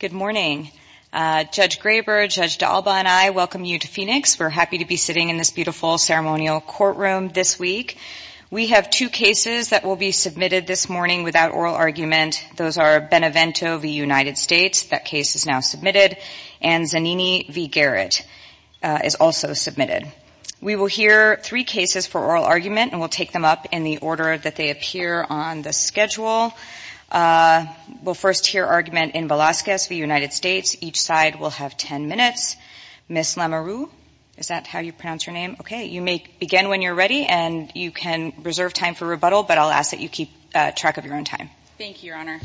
Good morning. Judge Graber, Judge D'Alba, and I welcome you to Phoenix. We're happy to be sitting in this beautiful ceremonial courtroom this week. We have two cases that will be submitted this morning without oral argument. Those are Benevento v. United States. That case is now submitted. And Zanini v. Garrett is also submitted. We will hear three cases for oral argument, and we'll take them up in the order that they appear on the schedule. We'll first hear argument in Velazquez v. United States. Each side will have ten minutes. Ms. Lamoureux, is that how you pronounce your name? Okay. You may begin when you're ready, and you can reserve time for rebuttal, but I'll ask that you keep track of your own Thank you, Your Honor.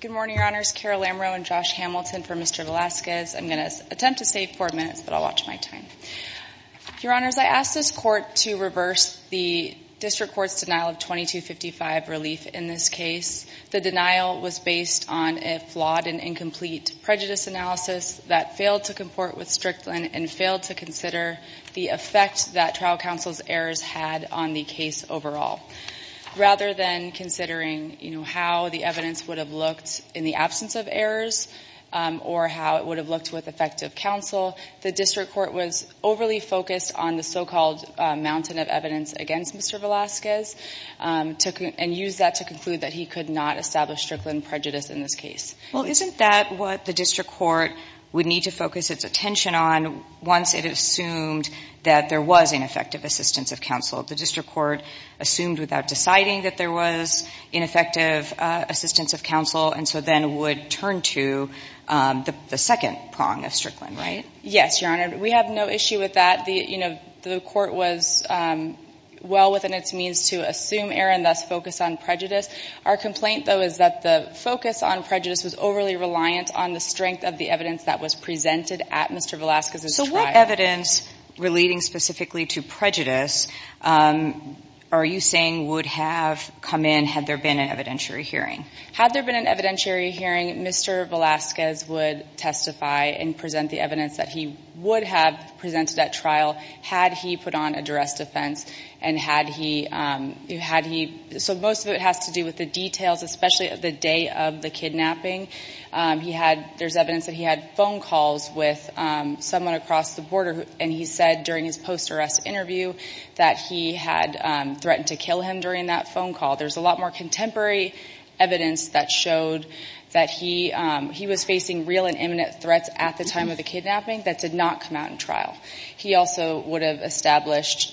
Good morning, Your Honors. Carol Lamoureux and Josh Hamilton for Mr. Velazquez. I'm going to attempt to save four minutes, but I'll watch my time. Your Honors, I ask this Court to reverse the District Court's denial of 2255 relief in this case. The denial was based on a flawed and incomplete prejudice analysis that failed to comport with Strickland and failed to consider the effect that trial counsel's errors had on the case overall. Rather than considering, you know, how the evidence would have looked in the absence of errors or how it would have looked with effective counsel, the District Court was overly focused on the so-called mountain of evidence against Mr. Velazquez and used that to conclude that he could not establish Strickland prejudice in this case. Well, isn't that what the District Court would need to focus its attention on once it assumed that there was ineffective assistance of counsel? The District Court assumed without deciding that there was ineffective assistance of counsel and so then would turn to the second prong of Strickland, right? Yes, Your Honor. We have no issue with that. The, you know, the Court was well within its means to assume error and thus focus on prejudice. Our complaint, though, is that the focus on prejudice was overly reliant on the strength of the evidence that was presented at Mr. Velazquez's trial. So what evidence relating specifically to prejudice are you saying would have come in had there been an evidentiary hearing? Had there been an evidentiary hearing, Mr. Velazquez would testify and present the evidence that he would have presented at trial had he put on a duress defense and had he so most of it has to do with the details, especially at the day of the kidnapping. He had there's evidence that he had phone calls with someone across the border and he said during his post-arrest interview that he had threatened to kill him during that phone call. There's a lot more contemporary evidence that showed that he he was facing real and imminent threats at the time of the kidnapping that did not come out in trial. He also would have just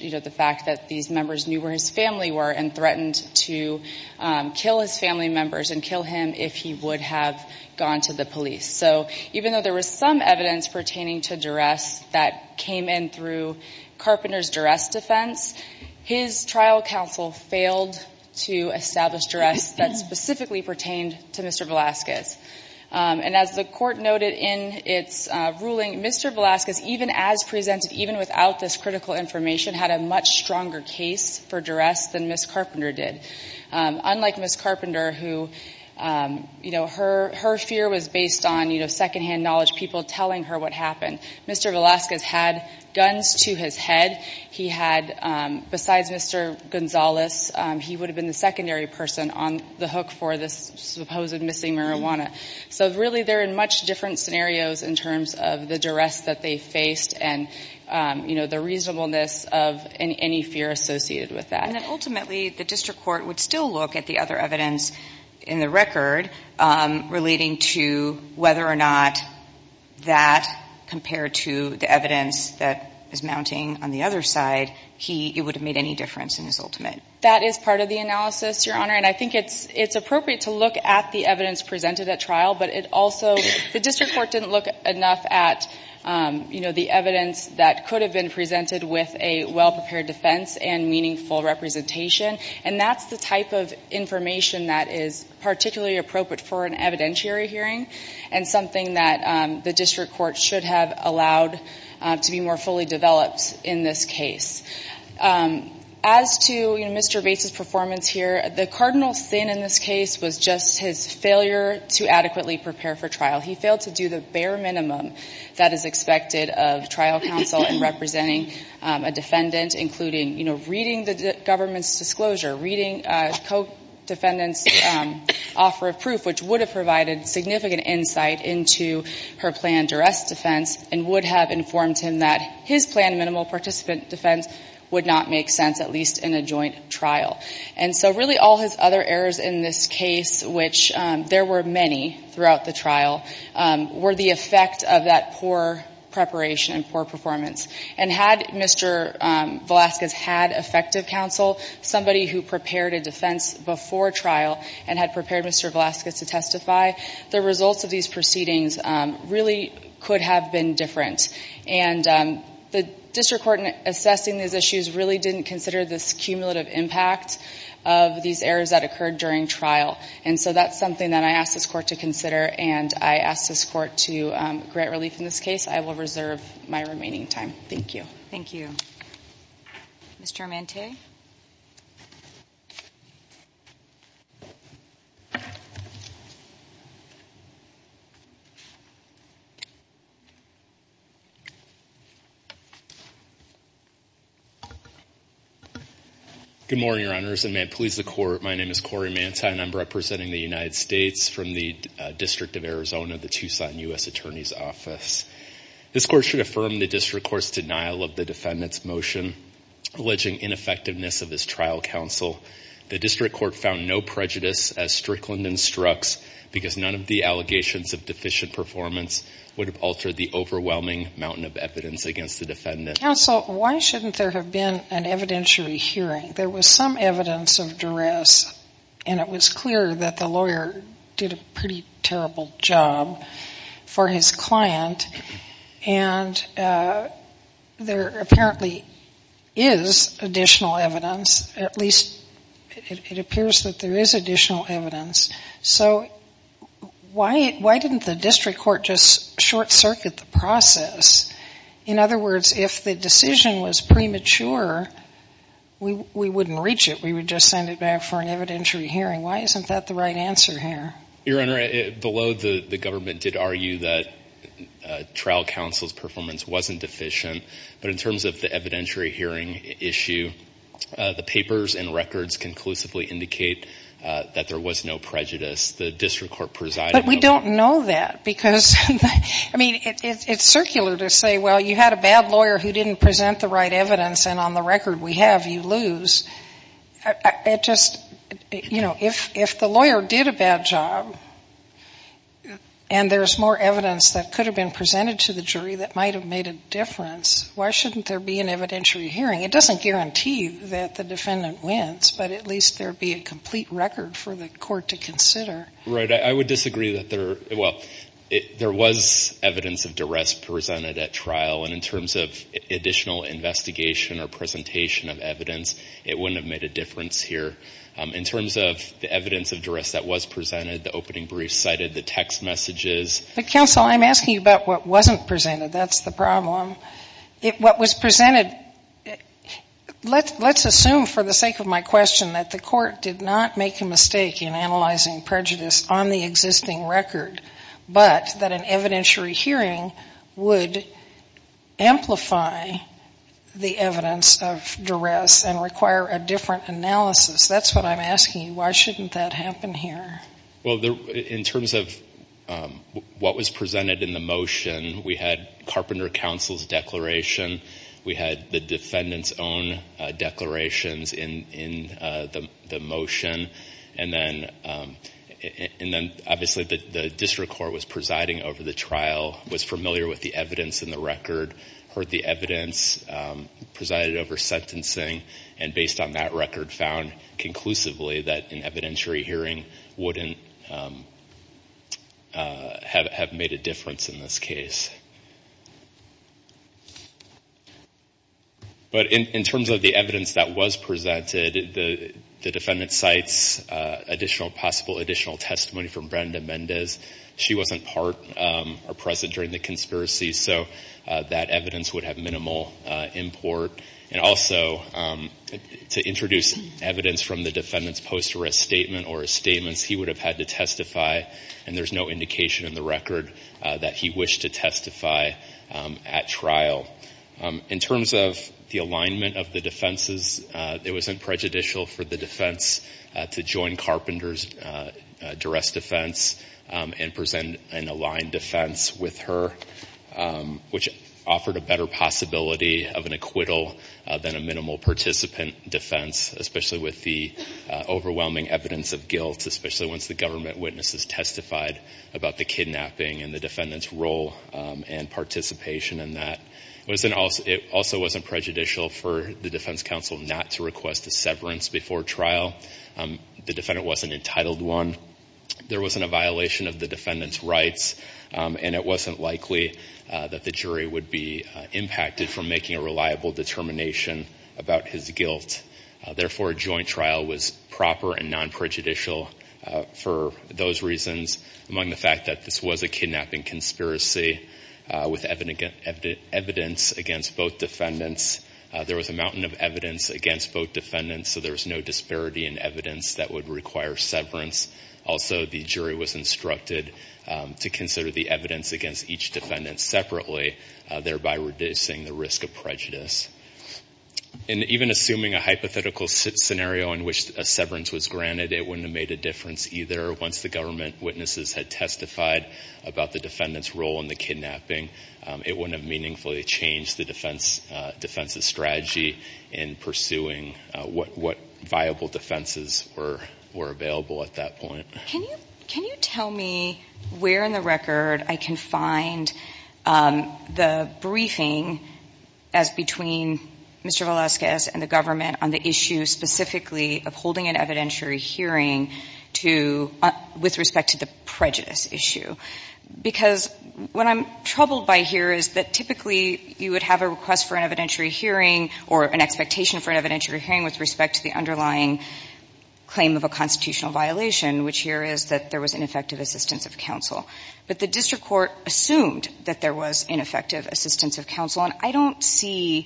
knew where his family were and threatened to kill his family members and kill him if he would have gone to the police. So even though there was some evidence pertaining to duress that came in through Carpenter's duress defense, his trial counsel failed to establish duress that specifically pertained to Mr. Velazquez. And as the Court noted in its ruling, Mr. Velazquez, even as presented, even without this critical information, had a much stronger case for duress than Ms. Carpenter did. Unlike Ms. Carpenter, her fear was based on second-hand knowledge, people telling her what happened. Mr. Velazquez had guns to his head. He had, besides Mr. Gonzalez, he would have been the secondary person on the hook for this supposed missing marijuana. So really they're in much different scenarios in terms of the duress that they faced and, you know, the reasonableness of any fear associated with that. And then ultimately the District Court would still look at the other evidence in the record relating to whether or not that, compared to the evidence that is mounting on the other side, he, it would have made any difference in his ultimate. That is part of the analysis, Your Honor, and I think it's appropriate to look at the evidence presented at trial, but it also, the District Court didn't look enough at, you know, the evidence that could have been presented with a well-prepared defense and meaningful representation, and that's the type of information that is particularly appropriate for an evidentiary hearing and something that the District Court should have allowed to be more fully developed in this case. As to, you know, Mr. Bates' performance here, the cardinal sin in this case was just his failure to adequately prepare for trial. He failed to do the bare minimum that is expected of trial counsel in representing a defendant, including, you know, reading the government's disclosure, reading a co-defendant's offer of proof, which would have provided significant insight into her planned duress defense and would have informed him that his planned minimal participant defense would not make sense, at least in a joint trial. And so really all his other errors in this case, which there were many throughout the trial, were the effect of that poor preparation and poor performance. And had Mr. Velasquez had effective counsel, somebody who prepared a defense before trial and had prepared Mr. Velasquez to testify, the results of these proceedings really could have been different. And the District Court in assessing these issues really didn't consider this cumulative impact of these errors that occurred during trial. And so that's something that I ask this Court to consider and I ask this Court to grant relief in this case. I will reserve my remaining time. Thank you. Thank you. Mr. Amante? Good morning, Your Honors, and may it please the Court, my name is Corey Amante and I'm representing the United States from the District of Arizona, the Tucson U.S. Attorney's Office. This Court should affirm the District Court's denial of the defendant's motion, alleging ineffectiveness of his trial counsel. The District Court found no prejudice as Strickland instructs because none of the allegations of deficient performance would have altered the overwhelming mountain of evidence against the defendant. Counsel, why shouldn't there have been an evidentiary hearing? There was some evidence of duress and it was clear that the lawyer did a pretty terrible job for his client. And there apparently is additional evidence, at least it appears that there is additional evidence. So why didn't the District Court just short circuit the process? In other words, if the decision was premature, we wouldn't reach it. We would just send it back for an evidentiary hearing. Why isn't that the right answer here? Your Honor, below the government did argue that trial counsel's performance wasn't deficient. But in terms of the evidentiary hearing issue, the papers and records conclusively indicate that there was no prejudice. The District Court presided over I mean, it's circular to say, well, you had a bad lawyer who didn't present the right evidence and on the record we have, you lose. It just, you know, if the lawyer did a bad job and there's more evidence that could have been presented to the jury that might have made a difference, why shouldn't there be an evidentiary hearing? It doesn't guarantee that the defendant wins, but at least there would be a complete record for the court to consider. Right. I would disagree that there, well, there was evidence of duress presented at trial and in terms of additional investigation or presentation of evidence, it wouldn't have made a difference here. In terms of the evidence of duress that was presented, the opening brief cited, the text messages But counsel, I'm asking you about what wasn't presented. That's the problem. What was presented, let's assume for the sake of my question that the court did not make a mistake in analyzing prejudice on the existing record, but that an evidentiary hearing would amplify the evidence of duress and require a different analysis. That's what I'm asking you. Why shouldn't that happen here? Well, in terms of what was presented in the motion, we had Carpenter Counsel's declaration. We had the defendant's own declarations in the motion, and then obviously the district court was presiding over the trial, was familiar with the evidence in the record, heard the evidence, presided over sentencing, and based on that record found conclusively that an evidentiary hearing wouldn't have made a difference in this case. But in terms of the evidence that was presented, the defendant cites possible additional testimony from Brenda Mendez. She wasn't present during the conspiracy, so that evidence would have minimal import. And also, to introduce evidence from the defendant's post arrest statement or his statements, he would have had to testify, and there's no indication in the record that he wished to testify at trial. In terms of the alignment of the defenses, it wasn't prejudicial for the defense to join Carpenter's duress defense and present an aligned defense with her, which offered a better possibility of an acquittal than a minimal participant defense, especially with the overwhelming evidence of guilt, especially once the government witnesses testified about the kidnapping and the defendant's role and participation in that. It also wasn't prejudicial for the defense counsel not to request a severance before trial. The defendant wasn't entitled to one. There wasn't a violation of the defendant's rights, and it wasn't likely that the jury would be impacted from making a reliable determination about his guilt. Therefore, a joint trial was proper and non-prejudicial for those reasons, among the fact that this was a kidnapping conspiracy with evidence against both defendants. There was a mountain of evidence against both defendants, so there was no disparity in evidence that would require severance. Also, the jury was instructed to consider the evidence against each defendant separately, thereby reducing the risk of prejudice. And even assuming a hypothetical scenario in which a severance was granted, it wouldn't have made a difference either. Once the government witnesses had testified about the defendant's role in the kidnapping, it wouldn't have meaningfully changed the defense's strategy in pursuing what viable defenses were available at that point. Can you tell me where in the record I can find the briefing between Mr. Velazquez and the government on the issue specifically of holding an evidentiary hearing to — with respect to the prejudice issue? Because what I'm troubled by here is that typically you would have a request for an evidentiary hearing or an expectation for an evidentiary hearing with respect to the underlying claim of a constitutional violation, which here is that there was ineffective assistance of counsel. But the district court assumed that there was ineffective assistance of counsel. And I don't see,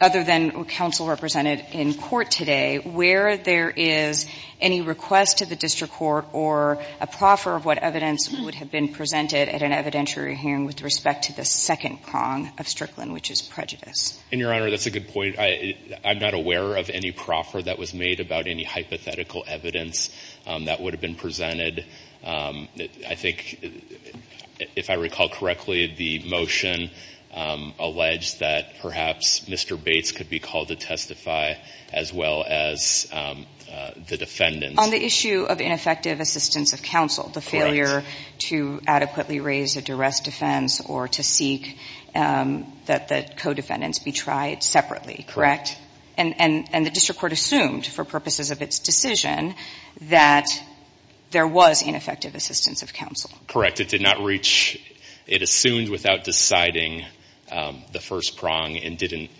other than counsel represented in court today, where there is any request to the district court or a proffer of what evidence would have been presented at an evidentiary hearing with respect to the second prong of Strickland, which is prejudice. And, Your Honor, that's a good point. I'm not aware of any proffer that was made about any hypothetical evidence that would have been presented. I think, if I recall correctly, the motion alleged that perhaps Mr. Bates could be called to testify, as well as the defendant. On the issue of ineffective assistance of counsel, the failure to adequately raise a duress defense or to seek that the co-defendants be tried separately, correct? And the district court assumed, for purposes of its decision, that there was ineffective assistance of counsel. Correct. It did not reach, it assumed without deciding the first prong and didn't,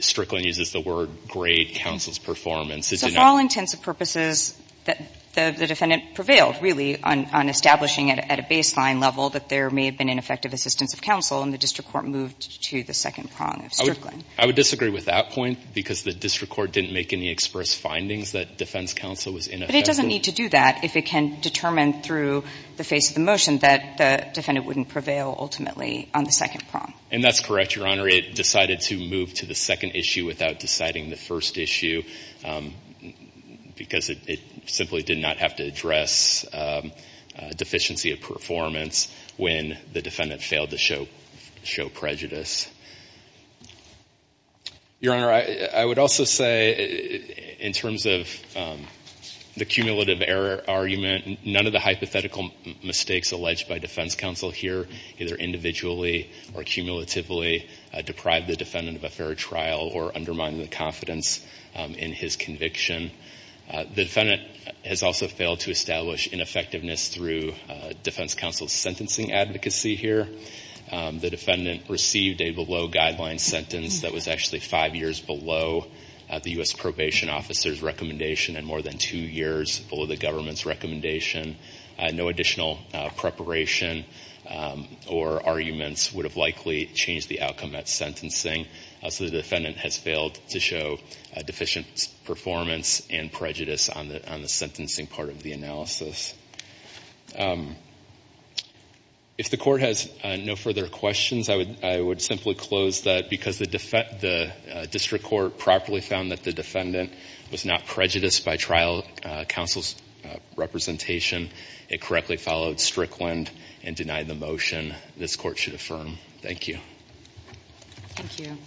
Strickland uses the word, grade counsel's performance. So, for all intents and purposes, the defendant prevailed, really, on establishing at a baseline level that there may have been ineffective assistance of counsel, and the district court moved to the second prong of Strickland. I would disagree with that point, because the district court didn't make any express findings that defense counsel was ineffective. But it doesn't need to do that if it can determine through the face of the motion that the defendant wouldn't prevail, ultimately, on the second prong. And that's correct, Your Honor. It decided to move to the second issue without deciding the first issue, because it simply did not have to address deficiency of performance when the defendant failed to show prejudice. Your Honor, I would also say, in terms of the cumulative error argument, none of the hypothetical mistakes alleged by defense counsel here, either individually or cumulatively, deprive the defendant of a fair trial or undermine the confidence in his conviction. The defendant has also failed to establish ineffectiveness through defense counsel's individually below guideline sentence that was actually five years below the U.S. probation officer's recommendation and more than two years below the government's recommendation. No additional preparation or arguments would have likely changed the outcome at sentencing, so the defendant has failed to show deficient performance and prejudice on the sentencing part of the analysis. If the Court has no further questions, I would simply close that, because the District Court properly found that the defendant was not prejudiced by trial counsel's representation. It correctly followed Strickland and denied the motion this Court should affirm. Thank you. Thank you.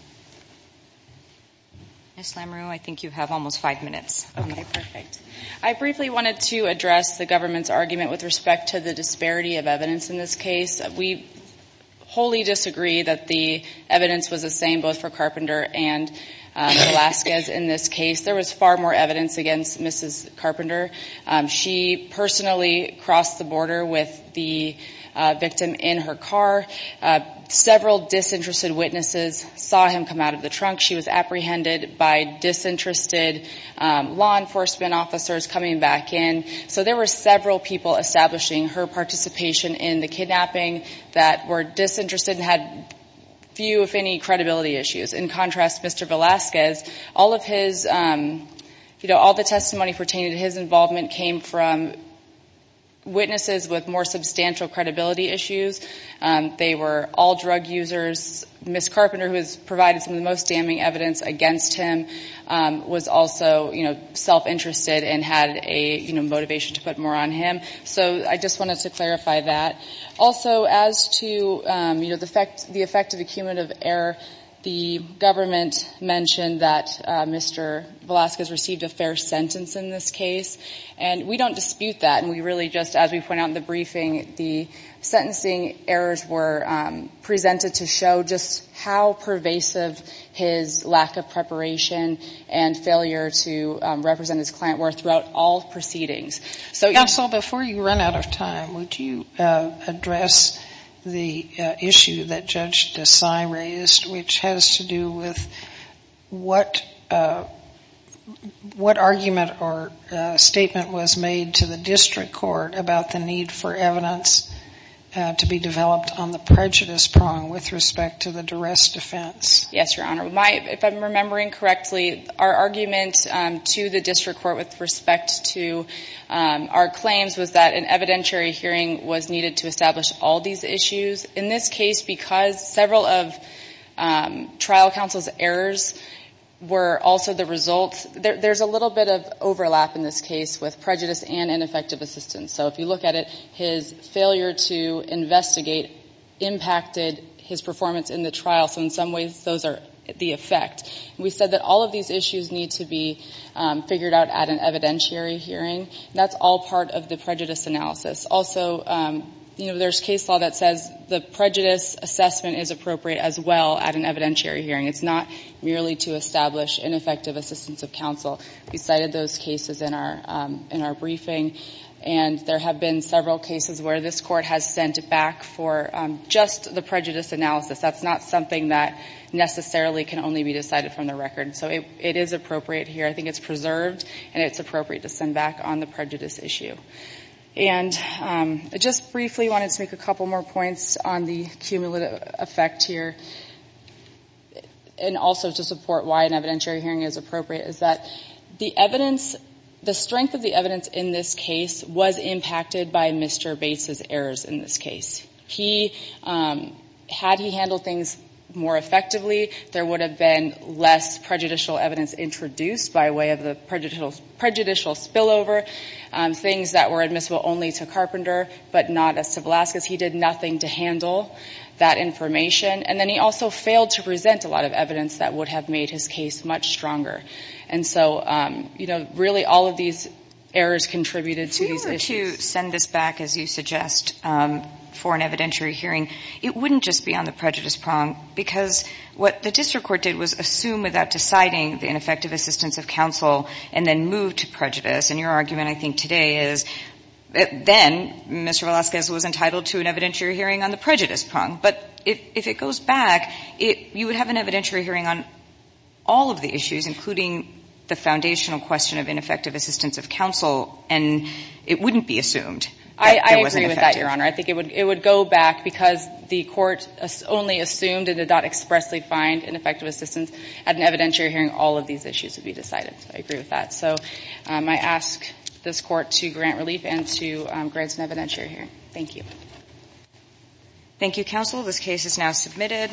Ms. Lamoureux, I think you have almost five minutes. Okay, perfect. I briefly wanted to address the government's argument with respect to the disparity of evidence in this case. We wholly disagree that the evidence was the same both for Carpenter and Velazquez in this case. There was far more evidence against Mrs. Carpenter. She personally crossed the border with the victim in her car. Several disinterested witnesses saw him come out of the trunk. She was apprehended by disinterested law enforcement officers coming back in. So there were several people establishing her participation in the kidnapping that were disinterested and had few, if any, credibility issues. In contrast, Mr. Velazquez, all the testimony pertaining to his involvement came from witnesses with more substantial credibility issues. They were all drug users. Ms. Carpenter, who has provided some of the most damning evidence against him, was also self-interested and had a motivation to put more on him. So I just wanted to clarify that. Also as to the effect of the cumulative error, the government mentioned that Mr. Velazquez received a fair sentence in this case. And we don't dispute that. And we really just, as we point out in the briefing, the sentencing errors were presented to show just how pervasive his lack of preparation and failure to represent his client were throughout all proceedings. Counsel, before you run out of time, would you address the issue that Judge Desai raised which has to do with what argument or statement was made to the district court about the fact the need for evidence to be developed on the prejudice prong with respect to the duress defense? Yes, Your Honor. If I'm remembering correctly, our argument to the district court with respect to our claims was that an evidentiary hearing was needed to establish all these issues. In this case, because several of trial counsel's errors were also the results, there's a little bit of overlap in this case with prejudice and ineffective assistance. So if you look at it, his failure to investigate impacted his performance in the trial. So in some ways those are the effect. We said that all of these issues need to be figured out at an evidentiary hearing. That's all part of the prejudice analysis. Also, you know, there's case law that says the prejudice assessment is appropriate as well at an evidentiary hearing. It's not merely to establish ineffective assistance of counsel. We cited those cases in our briefing and there have been several cases where this court has sent back for just the prejudice analysis. That's not something that necessarily can only be decided from the record. So it is appropriate here. I think it's preserved and it's appropriate to send back on the prejudice issue. And I just briefly wanted to make a couple more points on the cumulative effect here. And also to support why an evidentiary hearing is appropriate is that the evidence, the strength of the evidence in this case was impacted by Mr. Bates' errors in this case. He, had he handled things more effectively, there would have been less prejudicial evidence introduced by way of the prejudicial spillover, things that were admissible only to Carpenter but not as to Velazquez. He did nothing to handle that information. And then he also failed to present a lot of evidence that would have made his case much stronger. And so, you know, really all of these errors contributed to these issues. If we were to send this back, as you suggest, for an evidentiary hearing, it wouldn't just be on the prejudice prong because what the district court did was assume without deciding the ineffective assistance of counsel and then move to prejudice. And your argument, I think, today is that then Mr. Velazquez was entitled to an evidentiary hearing on the prejudice prong. But if it goes back, you would have an evidentiary hearing on all of the issues, including the foundational question of ineffective assistance of counsel, and it wouldn't be assumed that there was ineffective. I agree with that, Your Honor. I think it would go back because the court only assumed it did not expressly find ineffective assistance at an evidentiary hearing. All of these issues would be decided. I agree with that. So I ask this court to grant relief and to grant an evidentiary hearing. Thank you. Thank you, counsel. This case is now submitted.